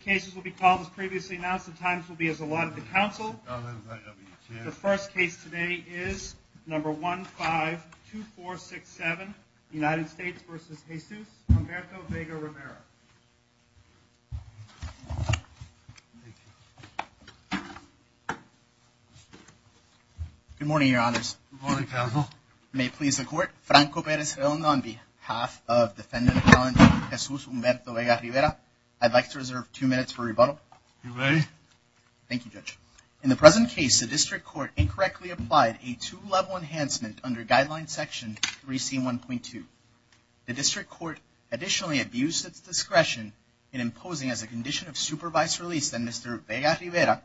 cases will be called as previously announced the times will be as a lot of the council The first case today is number one five two four six seven United States versus Jesus Good morning, your honors May please the court Franco Perez Hilton on behalf of defendant As well as the Vega-Rivera, I'd like to reserve two minutes for rebuttal Thank you judge in the present case the district court incorrectly applied a two-level enhancement under guideline section 3 c 1.2 The district court additionally abused its discretion in imposing as a condition of supervised release then mr. Vega-Rivera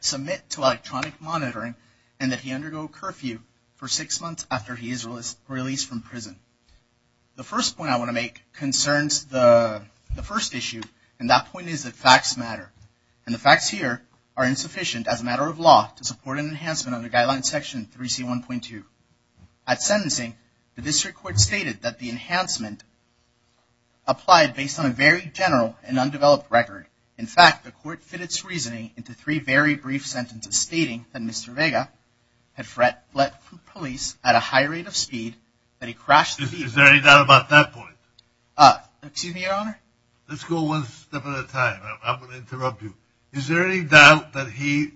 Submit to electronic monitoring and that he undergo curfew for six months after he is released from prison The first point I want to make concerns the The first issue and that point is that facts matter and the facts here are insufficient As a matter of law to support an enhancement under guideline section 3 c 1.2 at sentencing the district court stated that the enhancement Applied based on a very general and undeveloped record in fact the court fit its reasoning into three very brief sentences stating that mr Had fret let police at a high rate of speed that he crashed Excuse me Is there any doubt that he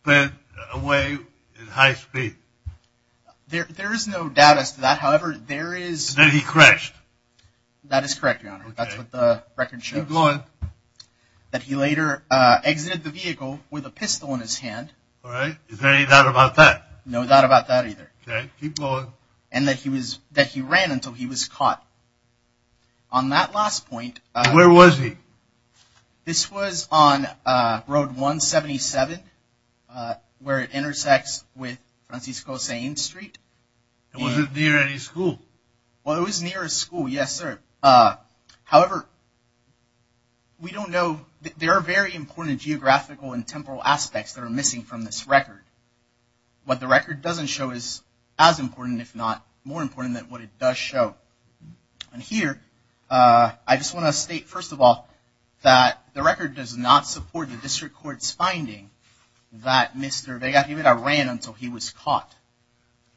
spent away in high speed There there is no doubt as to that. However, there is that he crashed That is correct. That's what the record should go on That he later Exited the vehicle with a pistol in his hand. All right Is there any doubt about that no doubt about that either keep going and that he was that he ran until he was caught On that last point, where was he? This was on Road 177 Where it intersects with Francisco Sainz Street Wasn't near any school. Well, it was near a school. Yes, sir however We don't know there are very important geographical and temporal aspects that are missing from this record What the record doesn't show is as important if not more important than what it does show And here I just want to state first of all that the record does not support the district courts finding That mr. They got even I ran until he was caught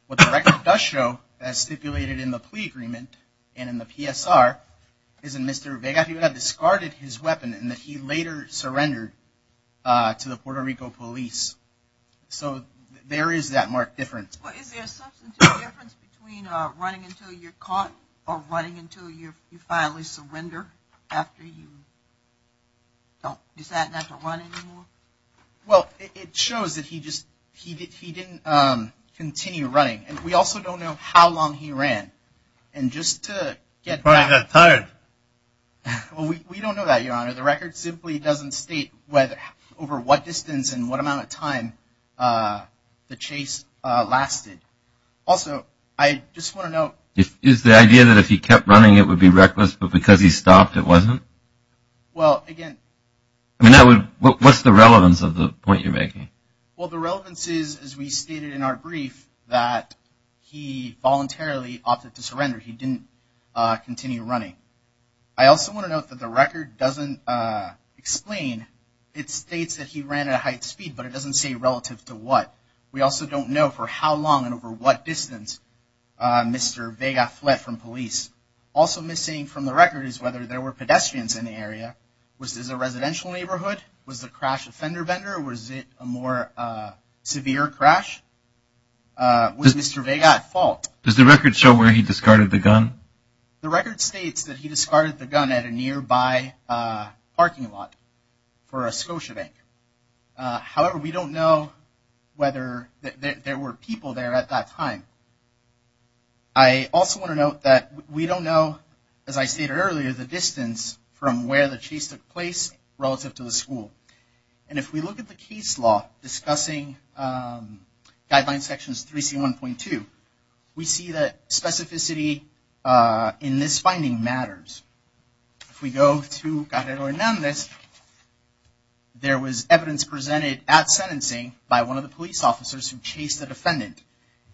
What the record does show as stipulated in the plea agreement and in the PSR isn't mr They got even I discarded his weapon and that he later surrendered to the Puerto Rico police So there is that mark difference Running until you're caught or running until you finally surrender after you Don't decide not to run anymore Well, it shows that he just he didn't continue running and we also don't know how long he ran and Just to get by that time Well, we don't know that your honor. The record simply doesn't state weather over what distance and what amount of time? the chase Lasted also, I just want to know if is the idea that if he kept running it would be reckless But because he stopped it wasn't Well again, I mean I would what's the relevance of the point you're making well the relevance is as we stated in our brief that He voluntarily opted to surrender. He didn't Continue running. I also want to note that the record doesn't Explain it states that he ran at a height speed, but it doesn't say relative to what we also don't know for how long and over What distance? Mr. Vega fled from police also missing from the record is whether there were pedestrians in the area Which is a residential neighborhood was the crash offender vendor. Was it a more severe crash Was mr. Vega fault does the record show where he discarded the gun the record states that he discarded the gun at a nearby parking lot for a Scotiabank However, we don't know whether There were people there at that time I Also want to note that we don't know as I stated earlier the distance from where the chase took place relative to the school and if we look at the case law discussing Guidelines sections 3 c 1.2. We see that specificity In this finding matters if we go to got it or none this There was evidence presented at sentencing by one of the police officers who chased a defendant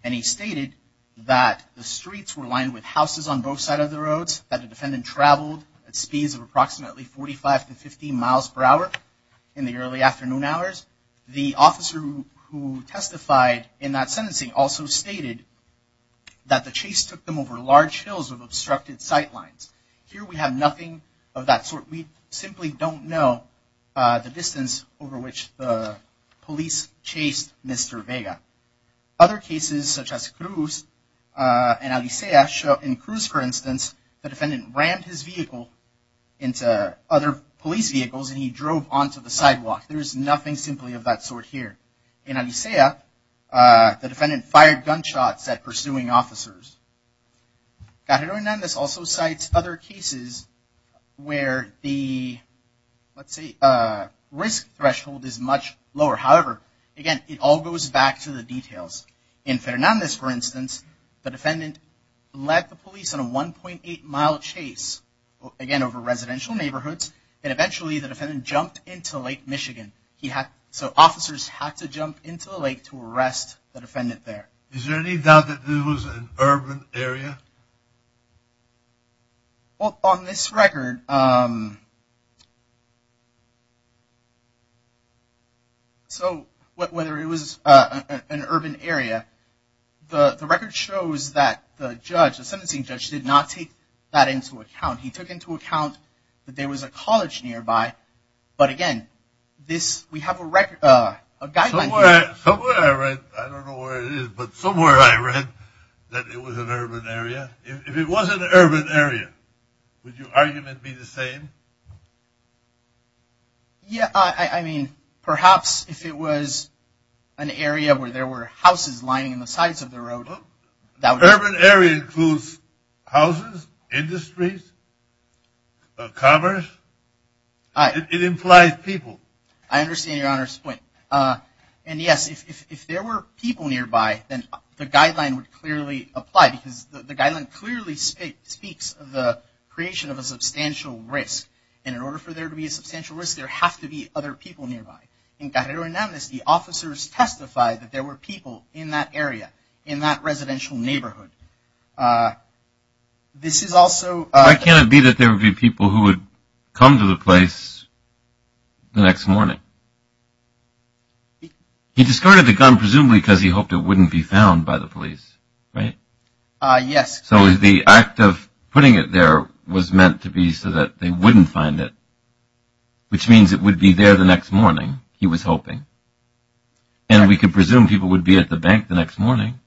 and he stated That the streets were lined with houses on both side of the roads that the defendant traveled at speeds of approximately 45 to 50 miles per hour in the early afternoon hours the officer who? testified in that sentencing also stated That the chase took them over large hills of obstructed sight lines here. We have nothing of that sort. We simply don't know The distance over which the police chased mr. Vega Other cases such as Cruz And Alicea show in Cruz for instance the defendant ran his vehicle into other police vehicles And he drove on to the sidewalk. There's nothing simply of that sort here in Alicea The defendant fired gunshots at pursuing officers Got it or none. This also cites other cases where the Let's see a risk threshold is much lower. However again, it all goes back to the details In fairness for instance the defendant let the police on a 1.8 mile chase Again over residential neighborhoods and eventually the defendant jumped into Lake Michigan He had so officers had to jump into the lake to arrest the defendant there. Is there any doubt that there was an urban area? Well on this record So What whether it was an urban area The the record shows that the judge the sentencing judge did not take that into account He took into account that there was a college nearby But again this we have a record a guideline But somewhere I read that it was an urban area if it was an urban area Would your argument be the same Yeah, I mean perhaps if it was an Area where there were houses lining in the sides of the road that urban area includes houses industries Commerce I It implies people. I understand your honor's point And yes if there were people nearby then the guideline would clearly apply because the guideline clearly Speaks of the creation of a substantial risk in order for there to be a substantial risk there have to be other people nearby I think that everyone knows the officers testified that there were people in that area in that residential neighborhood This is also I can't be that there would be people who would come to the place the next morning He discarded the gun presumably because he hoped it wouldn't be found by the police, right Yes, so is the act of putting it there was meant to be so that they wouldn't find it Which means it would be there the next morning. He was hoping and We could presume people would be at the bank the next morning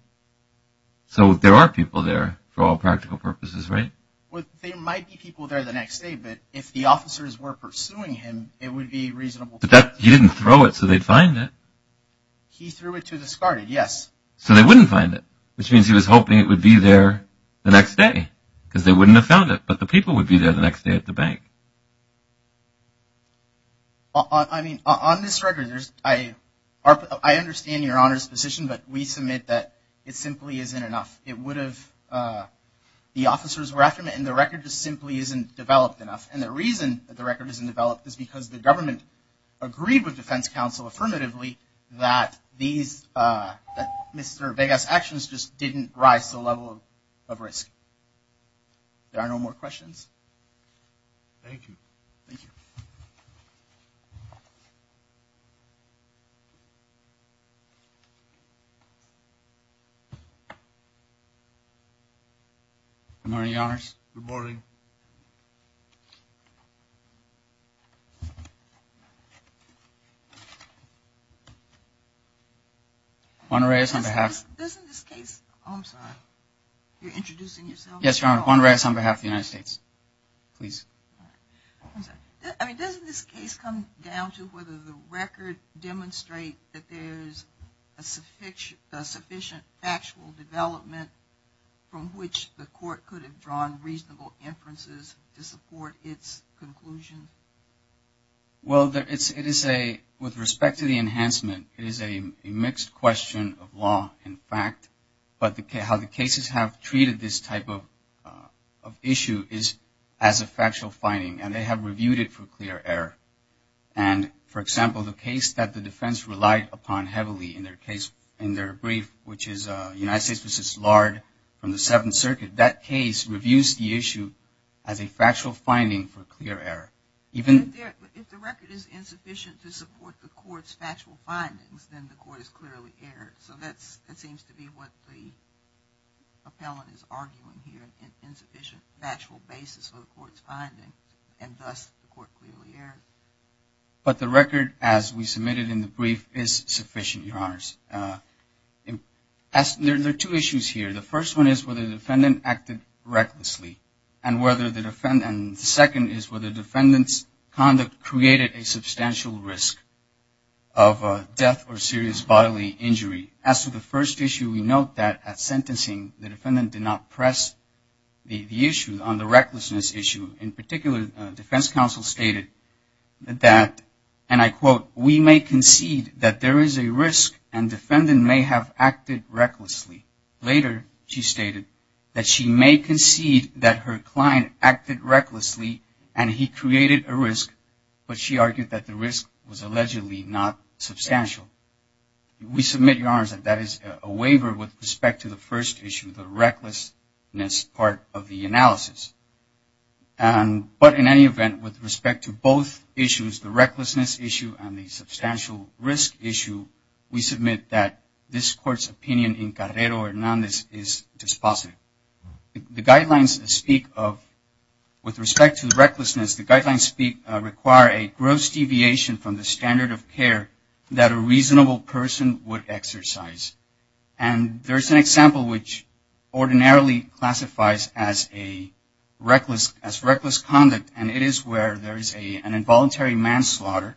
So there are people there for all practical purposes, right? Well, there might be people there the next day, but if the officers were pursuing him It would be reasonable, but that he didn't throw it. So they'd find it He threw it to discarded. Yes, so they wouldn't find it Which means he was hoping it would be there the next day because they wouldn't have found it But the people would be there the next day at the bank I mean on this record. There's I Understand your honors position, but we submit that it simply isn't enough. It would have The officers were after me and the record just simply isn't developed enough And the reason that the record isn't developed is because the government agreed with Defense Council affirmatively that these Mr. Vegas actions just didn't rise to the level of risk. There are no more questions I'm already ours. Good morning Honorary is on behalf Yes, your honor one race on behalf of the United States, please I mean doesn't this case come down to whether the record demonstrate that there's a suffix a sufficient factual development From which the court could have drawn reasonable inferences to support its conclusion Well, there it's it is a with respect to the enhancement it is a mixed question of law in fact but the how the cases have treated this type of issue is as a factual finding and they have reviewed it for clear error and For example the case that the defense relied upon heavily in their case in their brief Which is a United States versus Lard from the Seventh Circuit that case reviews the issue as a factual finding for clear error Even if the record is insufficient to support the court's factual findings, then the court is clearly error. So that's it seems to be what the Appellant is arguing here an insufficient factual basis for the court's finding and thus the court clearly error But the record as we submitted in the brief is sufficient your honors In as there are two issues here. The first one is whether the defendant acted Recklessly and whether the defendants second is where the defendants conduct created a substantial risk of Death or serious bodily injury as to the first issue. We note that at sentencing the defendant did not press The the issues on the recklessness issue in particular Defense Counsel stated That and I quote we may concede that there is a risk and defendant may have acted recklessly Later she stated that she may concede that her client acted recklessly and he created a risk But she argued that the risk was allegedly not substantial we submit your honors that that is a waiver with respect to the first issue the recklessness part of the analysis and But in any event with respect to both issues the recklessness issue and the substantial risk issue We submit that this court's opinion in Carrero Hernandez is dispositive the guidelines speak of with respect to the recklessness the guidelines speak require a gross deviation from the standard of care that a reasonable person would exercise and there's an example which ordinarily classifies as a Reckless as reckless conduct and it is where there is a an involuntary manslaughter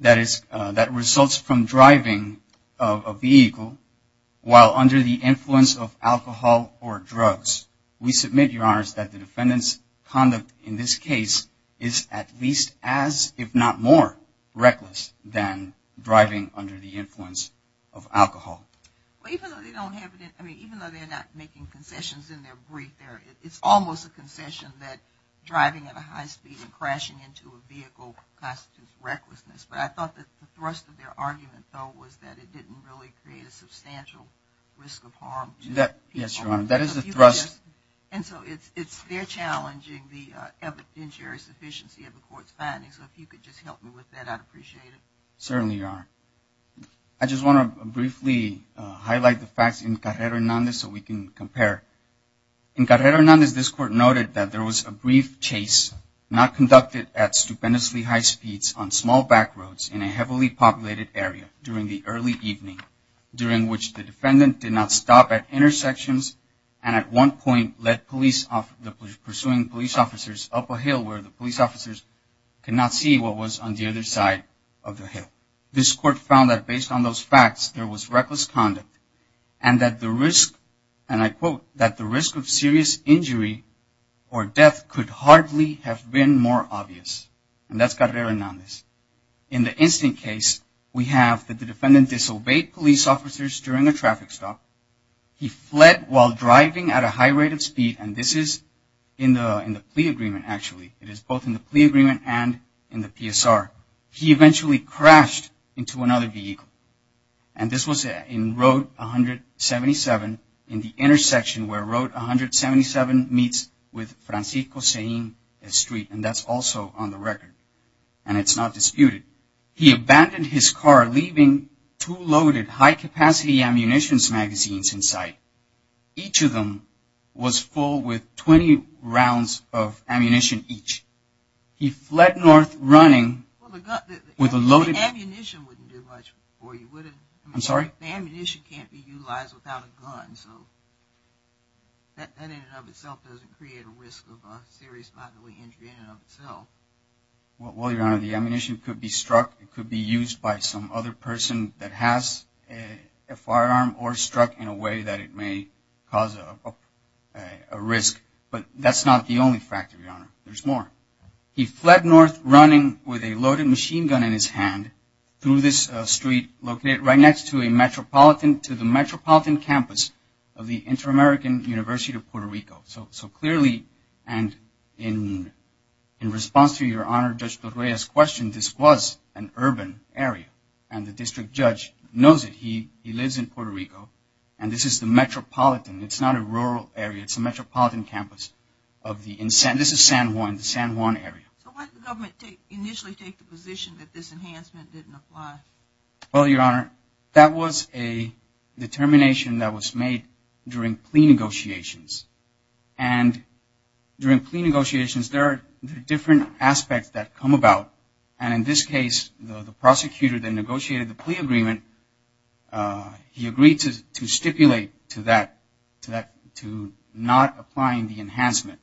That is that results from driving a vehicle while under the influence of alcohol or drugs We submit your honors that the defendants conduct in this case is at least as if not more reckless than driving under the influence of alcohol It's almost a concession that driving at a high speed and crashing into a vehicle Recklessness, but I thought that the thrust of their argument though was that it didn't really create a substantial Risk of harm to that. Yes, your honor. That is the thrust and so it's it's they're challenging the Injurious efficiency of the court's findings. So if you could just help me with that, I'd appreciate it. Certainly are I Just want to briefly Highlight the facts in Carrera Hernandez so we can compare In Carrera Hernandez this court noted that there was a brief chase not conducted at stupendously high speeds On small back roads in a heavily populated area during the early evening During which the defendant did not stop at intersections and at one point let police off the pursuing police officers up a hill Where the police officers? Cannot see what was on the other side of the hill this court found that based on those facts there was reckless conduct and that the risk and I quote that the risk of serious injury or Death could hardly have been more obvious and that's Carrera Hernandez in the instant case We have that the defendant disobeyed police officers during a traffic stop He fled while driving at a high rate of speed and this is in the in the plea agreement Actually, it is both in the plea agreement and in the PSR He eventually crashed into another vehicle and this was in Road 177 in the intersection where Road 177 meets with Francisco saying a street and that's also on the record and it's not disputed He abandoned his car leaving two loaded high-capacity ammunitions magazines inside Each of them was full with 20 rounds of ammunition each He fled north running with a loaded Ammunition wouldn't do much for you. Would it? I'm sorry. The ammunition can't be utilized without a gun. So What will your honor the ammunition could be struck it could be used by some other person that has a firearm or struck in a way that it may cause a Risk, but that's not the only factor your honor. There's more He fled north running with a loaded machine gun in his hand through this street located right next to a Metropolitan to the Metropolitan campus of the Inter-American University of Puerto Rico. So so clearly and in In response to your honor just the Reyes question This was an urban area and the district judge knows that he he lives in Puerto Rico and this is the Metropolitan It's not a rural area. It's a metropolitan campus of the incentive San Juan San Juan area Well, your honor that was a determination that was made during plea negotiations and During plea negotiations there are different aspects that come about and in this case the prosecutor then negotiated the plea agreement He agreed to stipulate to that to that to not applying the enhancement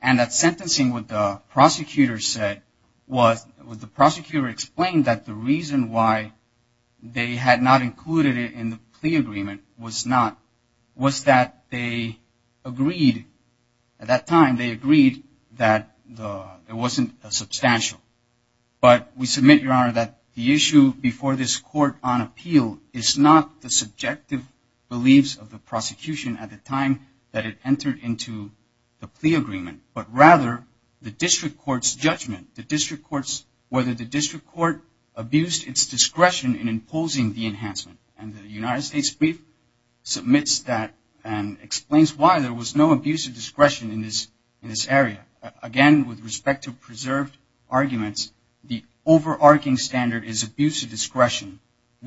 and That's sentencing with the prosecutor said was with the prosecutor explained that the reason why? They had not included it in the plea agreement was not was that they agreed at that time they agreed that It wasn't a substantial But we submit your honor that the issue before this court on appeal is not the subjective Beliefs of the prosecution at the time that it entered into the plea agreement But rather the district courts judgment the district courts whether the district court Abused its discretion in imposing the enhancement and the United States brief Submits that and explains why there was no abuse of discretion in this in this area again with respect to preserved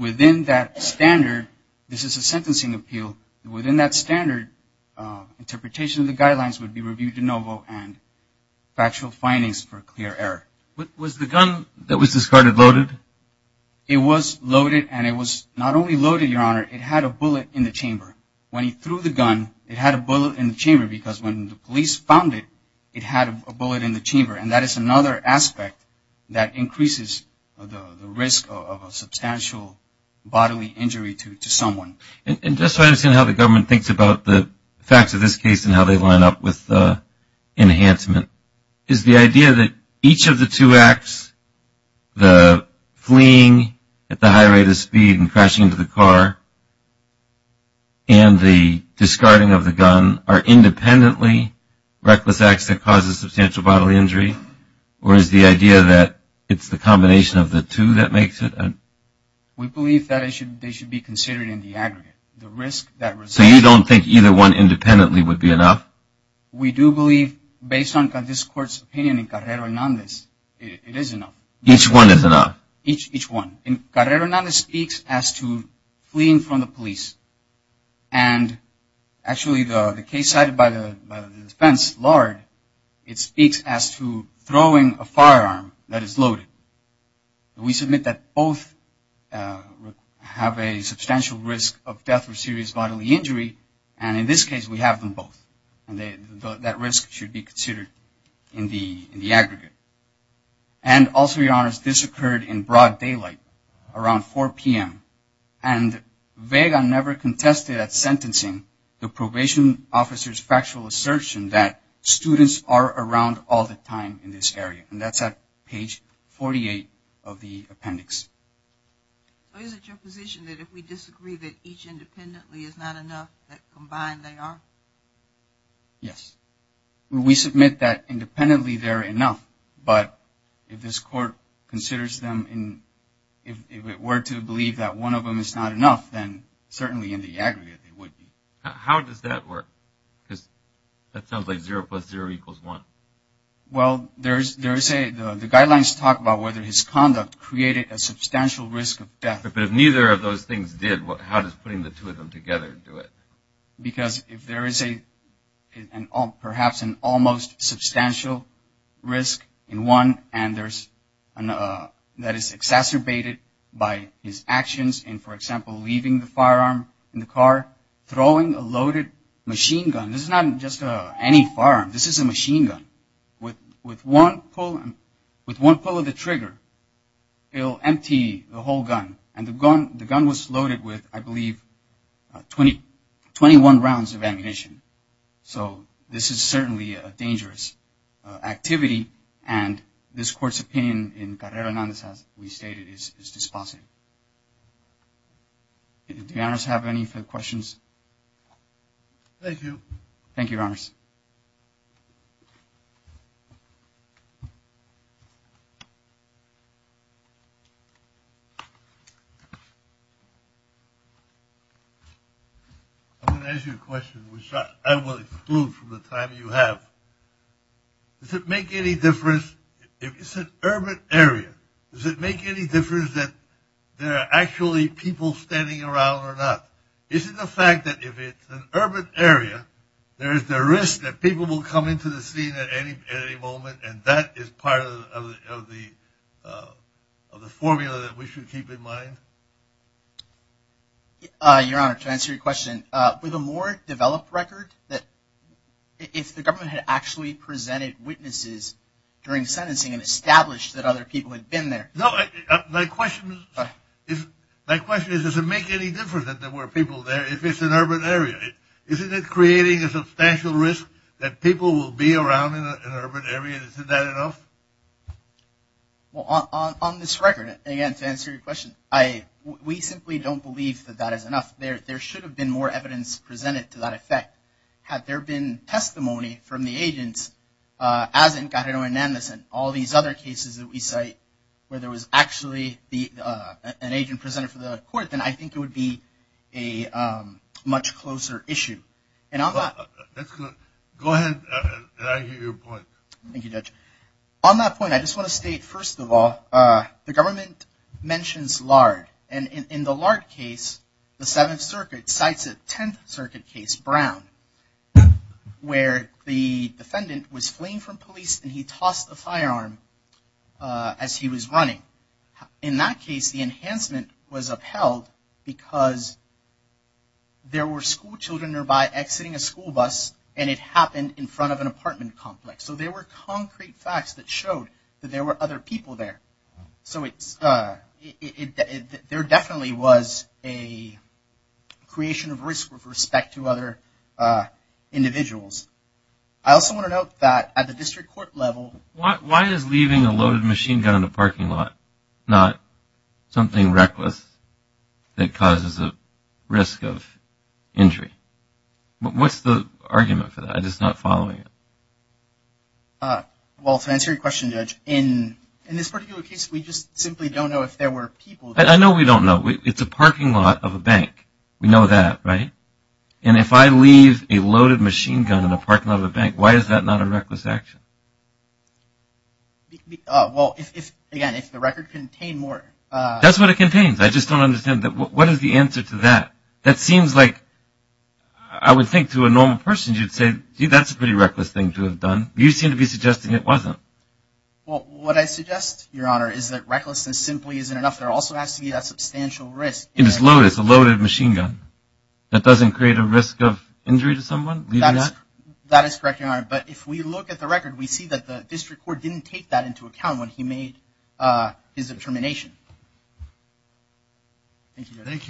Within that standard, this is a sentencing appeal within that standard interpretation of the guidelines would be reviewed de novo and Factual findings for a clear error. What was the gun that was discarded loaded? It was loaded and it was not only loaded your honor It had a bullet in the chamber when he threw the gun it had a bullet in the chamber because when the police found it It had a bullet in the chamber and that is another aspect that increases The risk of a substantial bodily injury to someone and just I understand how the government thinks about the facts of this case and how they line up with Enhancement is the idea that each of the two acts the fleeing at the high rate of speed and crashing into the car and The discarding of the gun are independently Reckless acts that causes substantial bodily injury or is the idea that it's the combination of the two that makes it We believe that it should they should be considered in the aggregate the risk that so you don't think either one independently would be enough We do believe based on this court's opinion in Carrera and on this each one is enough each each one in Carrera none speaks as to fleeing from the police and Actually the case cited by the defense Lord it speaks as to throwing a firearm that is loaded We submit that both Have a substantial risk of death or serious bodily injury and in this case we have them both and they that risk should be considered in the in the aggregate and Also, your honors this occurred in broad daylight around 4 p.m. And Vega never contested at sentencing the probation officers factual assertion that Students are around all the time in this area and that's at page 48 of the appendix Yes, we submit that independently they're enough but if this court considers them in If it were to believe that one of them is not enough then certainly in the aggregate it would be how does that work? Because that sounds like zero plus zero equals one Well, there's there's a the guidelines talk about whether his conduct created a substantial risk of death but if neither of those things did what how does putting the two of them together do it because if there is a and all perhaps an almost substantial risk in one and there's an That is exacerbated by his actions and for example leaving the firearm in the car throwing a loaded Machine gun. This is not just a any farm. This is a machine gun with with one pull with one pull of the trigger It'll empty the whole gun and the gun the gun was loaded with I believe 20 21 rounds of ammunition. So this is certainly a dangerous Activity and this court's opinion in Carrera none. This has we stated is dispositive The owners have any questions Thank you, thank you I'm gonna ask you a question, which I will exclude from the time you have Does it make any difference? If it's an urban area, does it make any difference that there are actually people standing around or not? Is it the fact that if it's an urban area? there is the risk that people will come into the scene at any at any moment and that is part of the Formula that we should keep in mind Your honor to answer your question with a more developed record that If the government had actually presented witnesses during sentencing and established that other people had been there no My question is if my question is does it make any difference that there were people there if it's an urban area? Isn't it creating a substantial risk that people will be around in an urban area? Is that enough? Well on this record again to answer your question I we simply don't believe that that is enough there There should have been more evidence presented to that effect had there been testimony from the agents as in Cajon and this and all these other cases that we say where there was actually the an agent presented for the court, then I think it would be a much closer issue and Thank you judge on that point I just want to state first of all the government Mentions Lard and in the Lard case the Seventh Circuit cites a Tenth Circuit case Brown Where the defendant was fleeing from police and he tossed a firearm as he was running in that case the enhancement was upheld because There were schoolchildren nearby exiting a school bus and it happened in front of an apartment complex So there were concrete facts that showed that there were other people there. So it's there definitely was a creation of risk with respect to other Individuals. I also want to note that at the district court level what why is leaving a loaded machine gun in the parking lot not something reckless that causes a risk of Injury, but what's the argument for that? I just not following it Well fancy question judge in in this particular case, we just simply don't know if there were people I know we don't know It's a parking lot of a bank We know that right and if I leave a loaded machine gun in the parking lot of a bank Why is that not a reckless action? Well, if the record contain more that's what it contains I just don't understand that what is the answer to that that seems like I Wasn't Well, what I suggest your honor is that recklessness simply isn't enough there also has to be that substantial risk It is load. It's a loaded machine gun. That doesn't create a risk of injury to someone That is correct your honor But if we look at the record, we see that the district court didn't take that into account when he made his determination Thank you, thank you